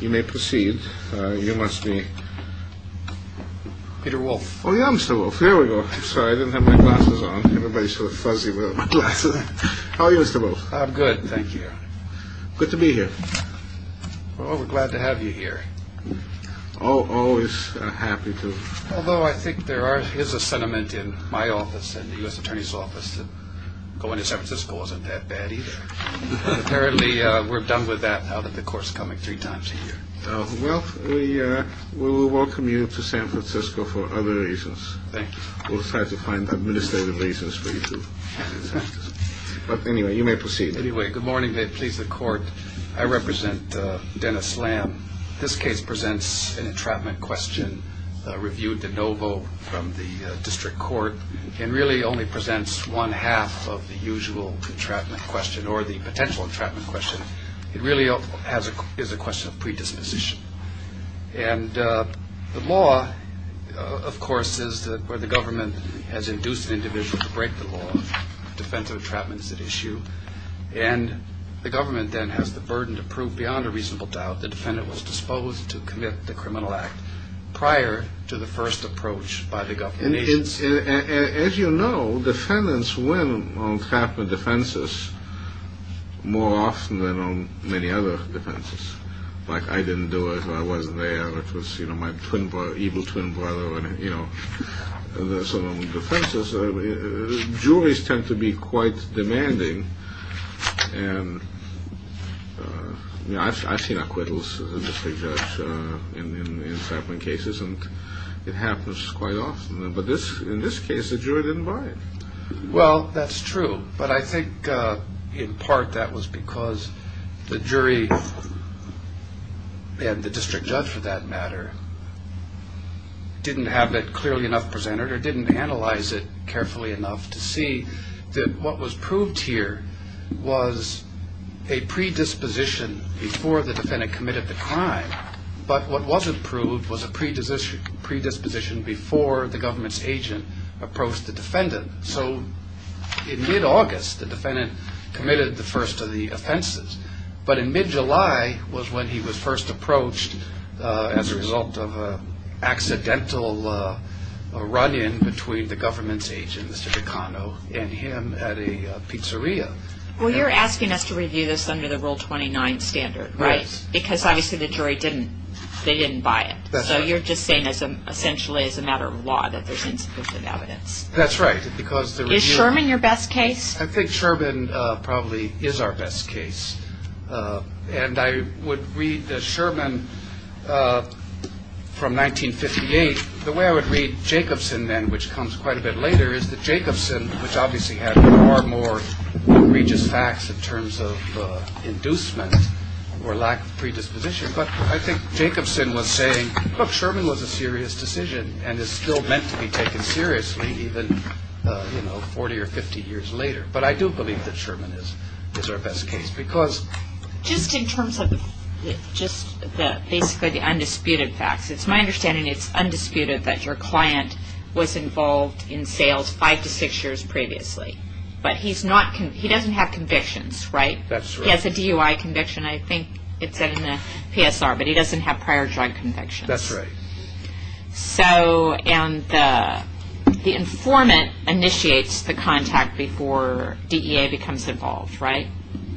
You may proceed. You must be Peter Wolfe. Oh yeah, I'm Mr. Wolfe. Here we go. I'm sorry, I didn't have my glasses on. Everybody's sort of fuzzy without my glasses on. How are you, Mr. Wolfe? I'm good, thank you. Good to be here. Well, we're glad to have you here. Always happy to. Although I think there is a sentiment in my office, in the U.S. Attorney's office, that going to San Francisco wasn't that bad either. Apparently, we're done with that now that the court's coming three times a year. Well, we will welcome you to San Francisco for other reasons. Thank you. We'll try to find administrative reasons for you too. But anyway, you may proceed. Anyway, good morning. May it please the court. I represent Dennis Lam. This case presents an entrapment question reviewed de novo from the district court and really only presents one half of the usual entrapment question or the potential entrapment question. It really is a question of predisposition. And the law, of course, is where the government has induced an individual to break the law in defense of entrapments at issue. And the government then has the burden to prove beyond a reasonable doubt the defendant was disposed to commit the criminal act prior to the first approach by the government agency. As you know, defendants win on entrapment defenses more often than on many other defenses. Like, I didn't do it. I wasn't there. It was, you know, my twin brother, evil twin brother, you know. So on defenses, juries tend to be quite demanding. I've seen acquittals in district courts in entrapment cases, and it happens quite often. But in this case, the jury didn't buy it. Well, that's true. But I think in part that was because the jury and the district judge, for that matter, didn't have it clearly enough presented or didn't analyze it carefully enough to see that what was proved here was a predisposition before the defendant committed the crime. But what wasn't proved was a predisposition before the government's agent approached the defendant. So in mid-August, the defendant committed the first of the offenses. But in mid-July was when he was first approached as a result of an accidental run-in between the government's agent, Mr. Picano, and him at a pizzeria. Well, you're asking us to review this under the Rule 29 standard, right? Because obviously the jury didn't buy it. So you're just saying essentially as a matter of law that there's insufficient evidence. That's right. Is Sherman your best case? I think Sherman probably is our best case. And I would read Sherman from 1958. The way I would read Jacobson then, which comes quite a bit later, is that Jacobson, which obviously had far more egregious facts in terms of inducement or lack of predisposition. But I think Jacobson was saying, look, Sherman was a serious decision and is still meant to be taken seriously even, you know, 40 or 50 years later. But I do believe that Sherman is our best case. Just in terms of just basically the undisputed facts, it's my understanding it's undisputed that your client was involved in sales five to six years previously. But he doesn't have convictions, right? That's right. He has a DUI conviction. I think it's in the PSR. But he doesn't have prior drug convictions. That's right. And the informant initiates the contact before DEA becomes involved, right?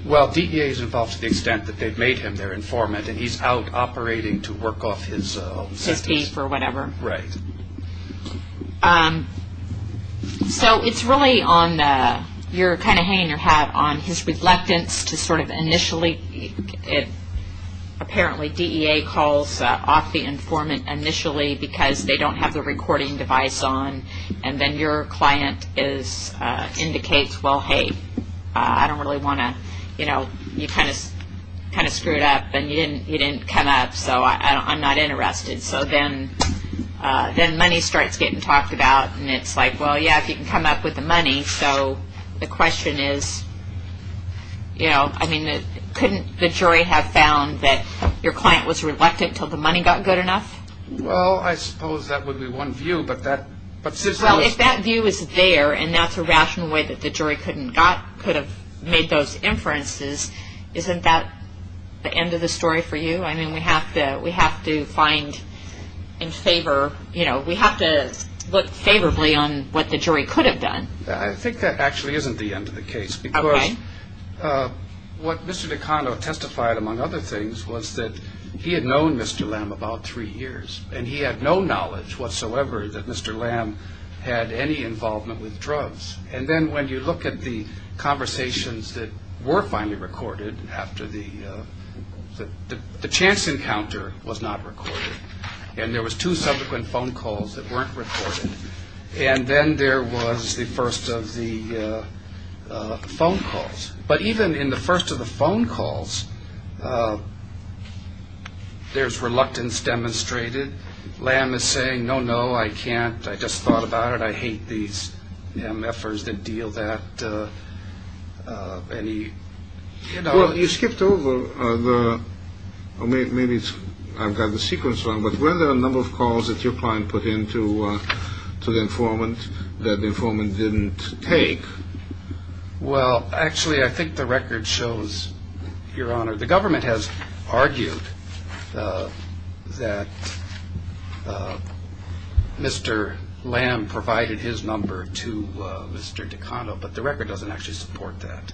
Well, DEA is involved to the extent that they've made him their informant, and he's out operating to work off his fees or whatever. Right. So it's really on your kind of hanging your hat on his reluctance to sort of initially, apparently DEA calls off the informant initially because they don't have the recording device on, and then your client indicates, well, hey, I don't really want to, you know, you kind of screwed up and you didn't come up, so I'm not interested. So then money starts getting talked about, and it's like, well, yeah, if you can come up with the money. So the question is, you know, I mean, couldn't the jury have found that your client was reluctant until the money got good enough? Well, I suppose that would be one view. Well, if that view is there and that's a rational way that the jury could have made those inferences, isn't that the end of the story for you? I mean, we have to find and favor, you know, we have to look favorably on what the jury could have done. I think that actually isn't the end of the case because what Mr. DeCando testified, among other things, was that he had known Mr. Lamb about three years, and he had no knowledge whatsoever that Mr. Lamb had any involvement with drugs. And then when you look at the conversations that were finally recorded after the chance encounter was not recorded, and there was two subsequent phone calls that weren't recorded, and then there was the first of the phone calls. But even in the first of the phone calls, there's reluctance demonstrated. Lamb is saying, no, no, I can't. I just thought about it. I hate these MFers that deal that. Well, you skipped over, or maybe I've got the sequence wrong, but were there a number of calls that your client put in to the informant that the informant didn't take? Well, actually, I think the record shows, Your Honor, the government has argued that Mr. Lamb provided his number to Mr. DeCando, but the record doesn't actually support that.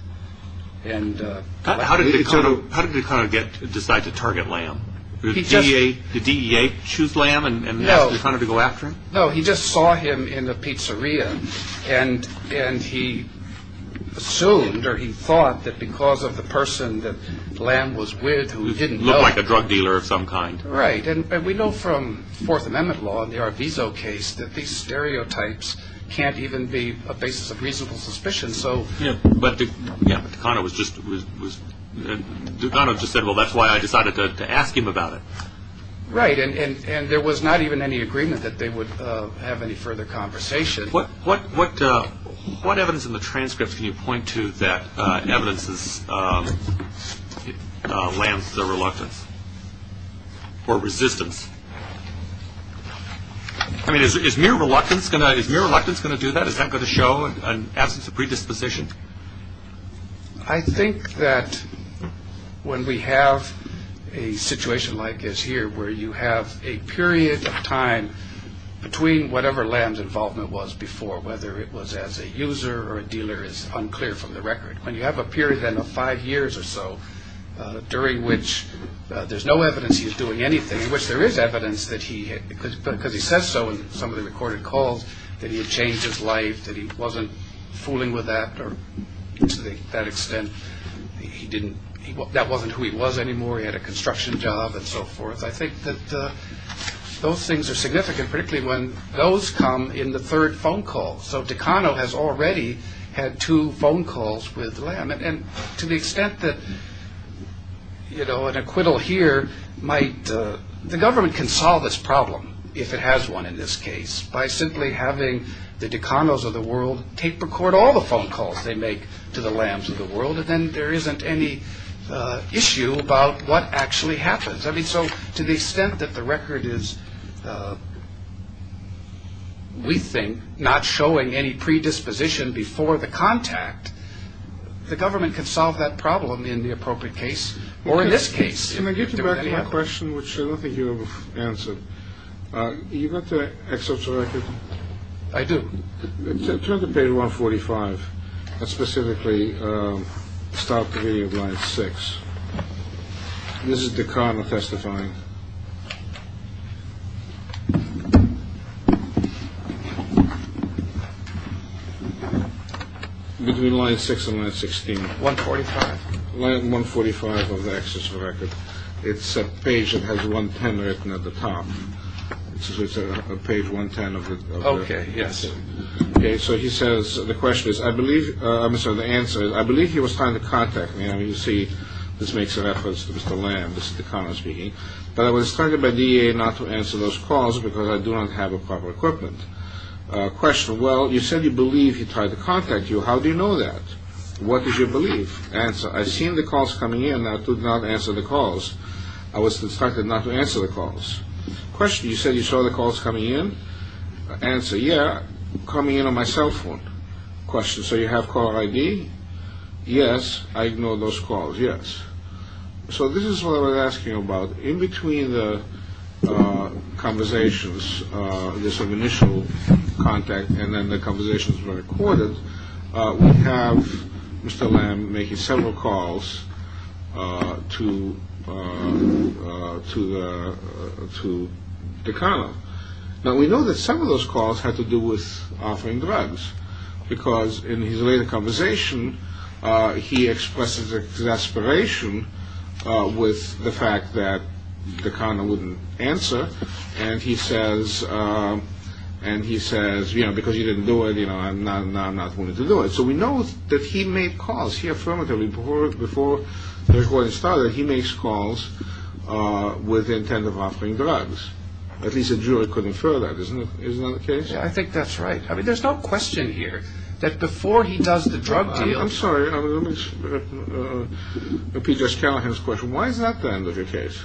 How did DeCando decide to target Lamb? Did DEA choose Lamb and ask DeCando to go after him? No, he just saw him in the pizzeria, and he assumed or he thought that because of the person that Lamb was with who didn't know. Looked like a drug dealer of some kind. Right, and we know from Fourth Amendment law and the Arvizo case that these stereotypes can't even be a basis of reasonable suspicion, so. Yeah, but DeCando just said, well, that's why I decided to ask him about it. Right, and there was not even any agreement that they would have any further conversation. What evidence in the transcript can you point to that evidences Lamb's reluctance or resistance? I mean, is mere reluctance going to do that? Is that going to show an absence of predisposition? I think that when we have a situation like this here, where you have a period of time between whatever Lamb's involvement was before, whether it was as a user or a dealer is unclear from the record. When you have a period then of five years or so, during which there's no evidence he's doing anything, in which there is evidence that he, because he says so in some of the recorded calls, that he had changed his life, that he wasn't fooling with that, or to that extent that wasn't who he was anymore. He had a construction job and so forth. I think that those things are significant, particularly when those come in the third phone call. So DeCando has already had two phone calls with Lamb. And to the extent that an acquittal here might, the government can solve this problem, if it has one in this case, by simply having the DeCandos of the world tape record all the phone calls they make to the Lambs of the world, and then there isn't any issue about what actually happens. I mean, so to the extent that the record is, we think, not showing any predisposition before the contact, the government can solve that problem in the appropriate case, or in this case. Can I get you back to my question, which I don't think you've answered? You've got the excerpts of the record? I do. Turn to page 145. That's specifically style 3 of line 6. This is DeCando testifying. Between line 6 and line 16. Line 145 of the excerpts of the record. It's a page that has 110 written at the top. It's page 110 of the record. Okay, yes. Okay, so he says, the question is, I believe, I'm sorry, the answer is, I believe he was trying to contact me. I mean, you see, this makes reference to Mr. Lamb, this is DeCando speaking. But I was targeted by DEA not to answer those calls because I do not have the proper equipment. Question, well, you said you believe he tried to contact you. How do you know that? What did you believe? Answer, I've seen the calls coming in. I did not answer the calls. I was instructed not to answer the calls. Question, you said you saw the calls coming in? Answer, yeah, coming in on my cell phone. Question, so you have caller ID? Yes. I ignored those calls, yes. So this is what I'm asking about. In between the conversations, this initial contact, and then the conversations were recorded, we have Mr. Lamb making several calls to DeCando. Now, we know that some of those calls had to do with offering drugs because in his later conversation, he expresses exasperation with the fact that DeCando wouldn't answer. And he says, you know, because you didn't do it, you know, I'm not willing to do it. So we know that he made calls. He affirmed the report before the recording started. He makes calls with the intent of offering drugs. At least a jury could infer that. Isn't that the case? Yeah, I think that's right. I mean, there's no question here that before he does the drug deal I'm sorry, let me just counter his question. Why is that the end of your case?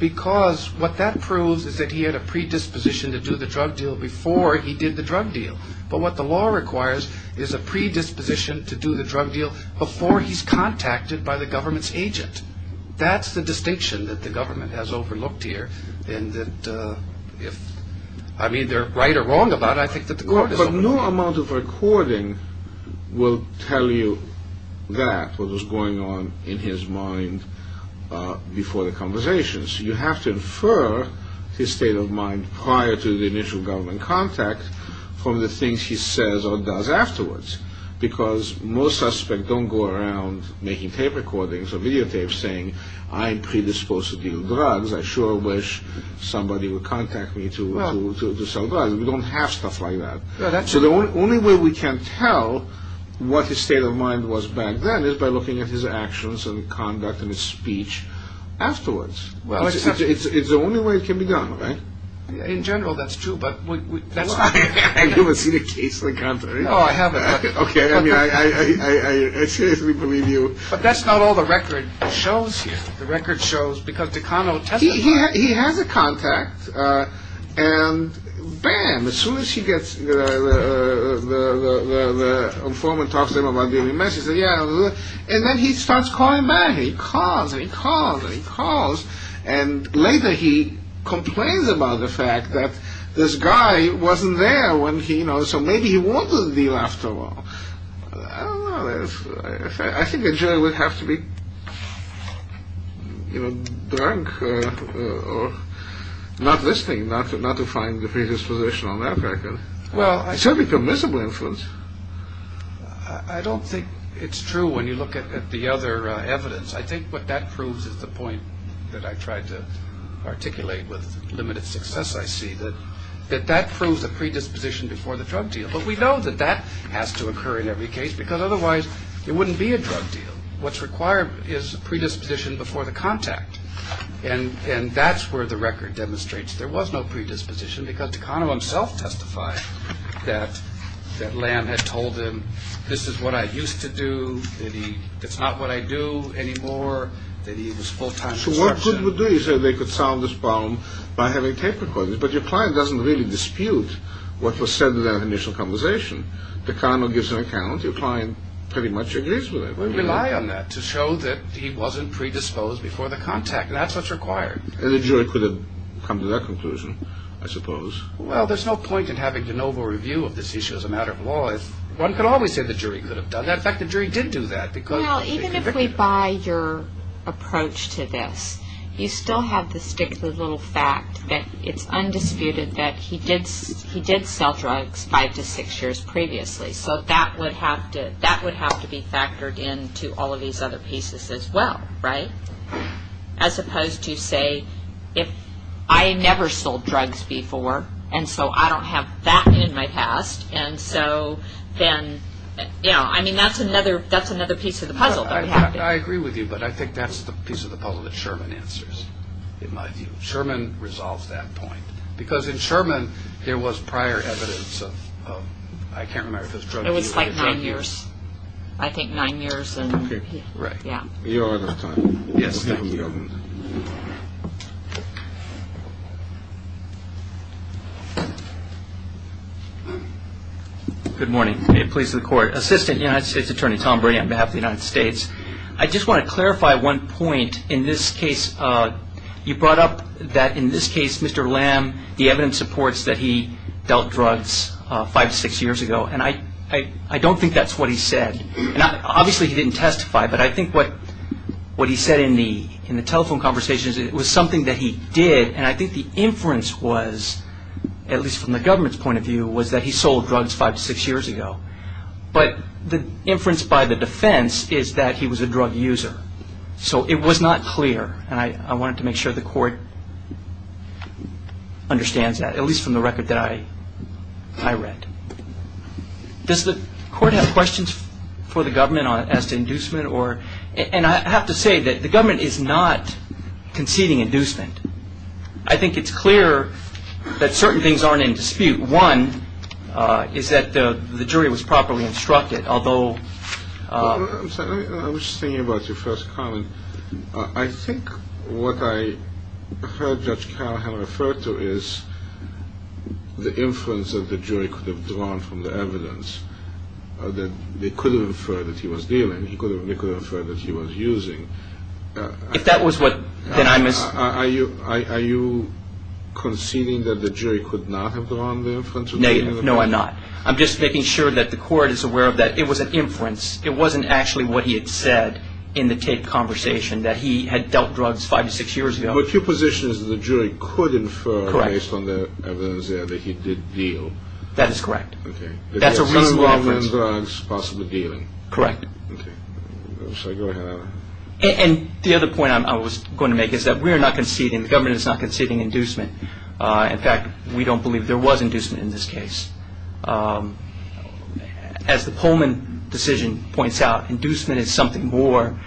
Because what that proves is that he had a predisposition to do the drug deal before he did the drug deal. But what the law requires is a predisposition to do the drug deal before he's contacted by the government's agent. That's the distinction that the government has overlooked here. And if I'm either right or wrong about it, I think that the court is overlooking it. But no amount of recording will tell you that, what was going on in his mind before the conversation. So you have to infer his state of mind prior to the initial government contact from the things he says or does afterwards. Because most suspects don't go around making tape recordings or videotapes saying I'm predisposed to deal drugs. I sure wish somebody would contact me to sell drugs. We don't have stuff like that. So the only way we can tell what his state of mind was back then is by looking at his actions and conduct and his speech afterwards. It's the only way it can be done, right? In general, that's true, but that's not... Have you ever seen a case like that? No, I haven't. Okay, I mean, I seriously believe you. But that's not all the record shows here. The record shows, because Takano testified... He has a contact. And bam, as soon as he gets... the informant talks to him about dealing meth, he says, yeah... And then he starts calling back. He calls and he calls and he calls. And later he complains about the fact that this guy wasn't there when he... So maybe he wanted the deal after all. I don't know. I think the jury would have to be, you know, drunk or... not listening, not to find the predisposition on that record. Well, I... It's certainly permissible influence. I don't think it's true when you look at the other evidence. I think what that proves is the point that I tried to articulate with limited success, I see. That that proves a predisposition before the drug deal. But we know that that has to occur in every case because otherwise there wouldn't be a drug deal. What's required is a predisposition before the contact. And that's where the record demonstrates there was no predisposition because Takano himself testified that Lamb had told him, this is what I used to do, that it's not what I do anymore, that he was full-time... So what could we do? You said they could solve this problem by having tape recordings. But your client doesn't really dispute what was said in that initial conversation. Takano gives an account. Your client pretty much agrees with it. We rely on that to show that he wasn't predisposed before the contact. That's what's required. And the jury could have come to that conclusion, I suppose. Well, there's no point in having de novo review of this issue as a matter of law. One could always say the jury could have done that. In fact, the jury did do that because... Well, even if we buy your approach to this, you still have to stick to the little fact that it's undisputed that he did sell drugs five to six years previously. So that would have to be factored into all of these other pieces as well, right? As opposed to, say, if I never sold drugs before, and so I don't have that in my past, and so then... I mean, that's another piece of the puzzle. I agree with you, but I think that's the piece of the puzzle that Sherman answers, in my view. Sherman resolves that point. Because in Sherman, there was prior evidence of... I can't remember if it was drug use... It was like nine years. I think nine years and... Right. You're out of time. Yes, thank you. Good morning. May it please the Court. Assistant United States Attorney Tom Brady, on behalf of the United States. I just want to clarify one point. In this case, you brought up that in this case, Mr. Lam, the evidence supports that he dealt drugs five to six years ago, and I don't think that's what he said. Obviously, he didn't testify, but I think what he said in the telephone conversation was something that he did, and I think the inference was, at least from the government's point of view, was that he sold drugs five to six years ago. But the inference by the defense is that he was a drug user. So it was not clear, and I wanted to make sure the Court understands that, at least from the record that I read. Does the Court have questions for the government as to inducement? And I have to say that the government is not conceding inducement. I think it's clear that certain things aren't in dispute. One is that the jury was properly instructed, although – I was thinking about your first comment. I think what I heard Judge Callahan refer to is the inference that the jury could have drawn from the evidence, that they could have inferred that he was dealing, they could have inferred that he was using. If that was what – Are you conceding that the jury could not have drawn the inference? No, I'm not. I'm just making sure that the Court is aware that it was an inference. It wasn't actually what he had said in the tape conversation, that he had dealt drugs five to six years ago. But your position is that the jury could infer, based on the evidence there, that he did deal. That is correct. That's a reasonable inference. Possibly dealing. Correct. So go ahead. And the other point I was going to make is that we are not conceding, the government is not conceding inducement. In fact, we don't believe there was inducement in this case. As the Pullman decision points out, inducement is something more.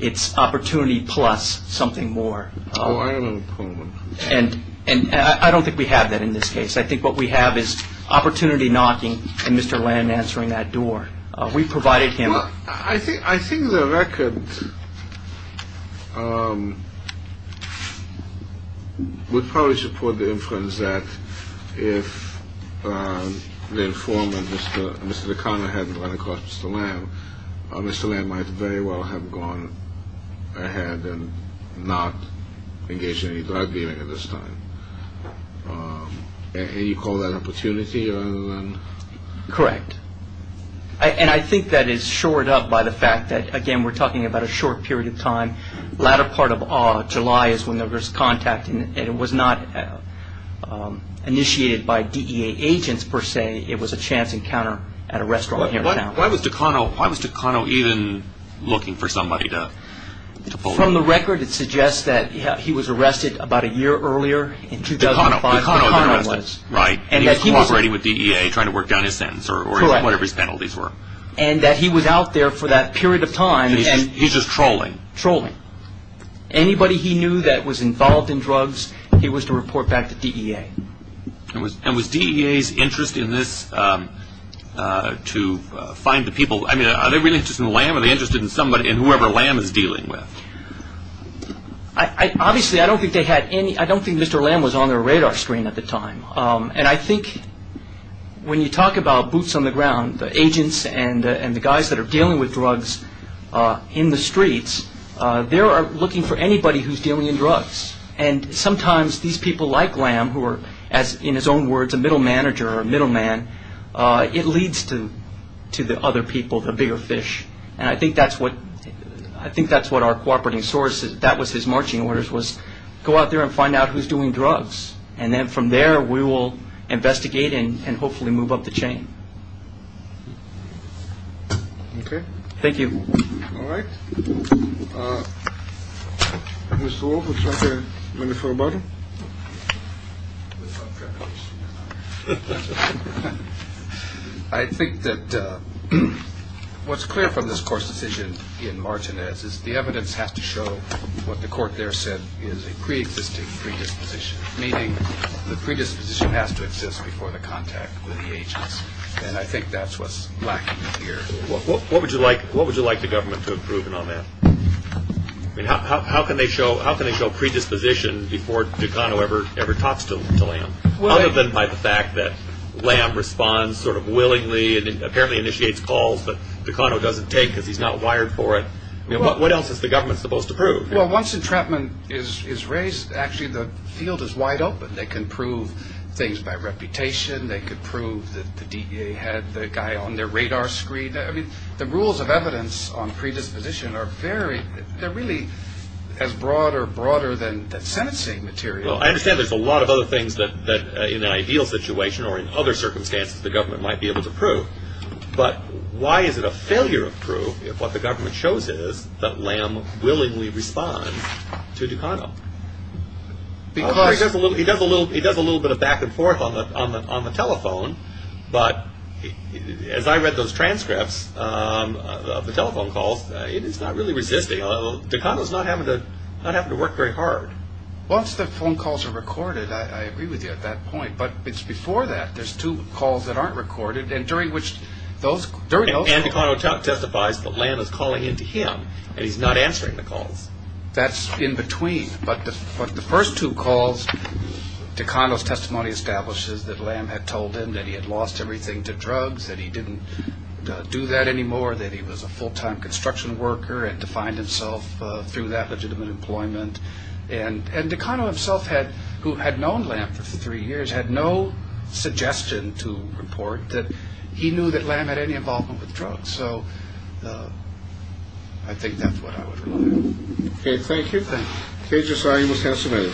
It's opportunity plus something more. Oh, I don't know the Pullman. And I don't think we have that in this case. I think what we have is opportunity knocking and Mr. Land answering that door. We provided him – I think the record would probably support the inference that if the informant, Mr. O'Connor, hadn't run across Mr. Land, Mr. Land might very well have gone ahead and not engaged in any drug dealing at this time. And you call that opportunity? Correct. And I think that is shored up by the fact that, again, we're talking about a short period of time. The latter part of July is when there was contact, and it was not initiated by DEA agents per se. It was a chance encounter at a restaurant near town. Why was DeCano even looking for somebody to pull him in? From the record, it suggests that he was arrested about a year earlier in 2005. DeCano. DeCano was arrested. Right. And he was cooperating with DEA trying to work down his sentence or whatever his penalties were. And that he was out there for that period of time. He's just trolling. Trolling. Anybody he knew that was involved in drugs, he was to report back to DEA. And was DEA's interest in this to find the people – I mean, are they really interested in Land? Are they interested in somebody and whoever Land is dealing with? Obviously, I don't think they had any – I don't think Mr. Land was on their radar screen at the time. And I think when you talk about boots on the ground, the agents and the guys that are dealing with drugs in the streets, they are looking for anybody who's dealing in drugs. And sometimes these people like Land, who are, in his own words, a middle manager or a middle man, it leads to the other people, the bigger fish. And I think that's what our cooperating source – that was his marching orders, was go out there and find out who's doing drugs. And then from there, we will investigate and hopefully move up the chain. Okay. Thank you. All right. Mr. Wolf, would you like a minute for a button? I think that what's clear from this court's decision in Martinez is the evidence has to show what the court there said is a preexisting predisposition, meaning the predisposition has to exist before the contact with the agents. And I think that's what's lacking here. What would you like the government to have proven on that? How can they show predisposition before Tucano ever talks to Land? Other than by the fact that Land responds sort of willingly and apparently initiates calls, but Tucano doesn't take because he's not wired for it. What else is the government supposed to prove? Well, once entrapment is raised, actually the field is wide open. They can prove things by reputation. They could prove that the DEA had the guy on their radar screen. I mean, the rules of evidence on predisposition are very – they're really as broad or broader than that sentencing material. Well, I understand there's a lot of other things that in an ideal situation or in other circumstances the government might be able to prove. But why is it a failure of proof if what the government shows is that Land willingly responds to Tucano? He does a little bit of back and forth on the telephone, but as I read those transcripts of the telephone calls, it's not really resisting. Tucano's not having to work very hard. Once the phone calls are recorded, I agree with you at that point, but it's before that. There's two calls that aren't recorded, and during which those – And Tucano testifies that Land was calling into him, and he's not answering the calls. That's in between. But the first two calls, Tucano's testimony establishes that Land had told him that he had lost everything to drugs, that he didn't do that anymore, that he was a full-time construction worker and defined himself through that legitimate employment. And Tucano himself, who had known Land for three years, had no suggestion to report that he knew that Land had any involvement with drugs. So I think that's what I would rely on. Okay, thank you. Thank you. Okay, Josiah, you must have some air.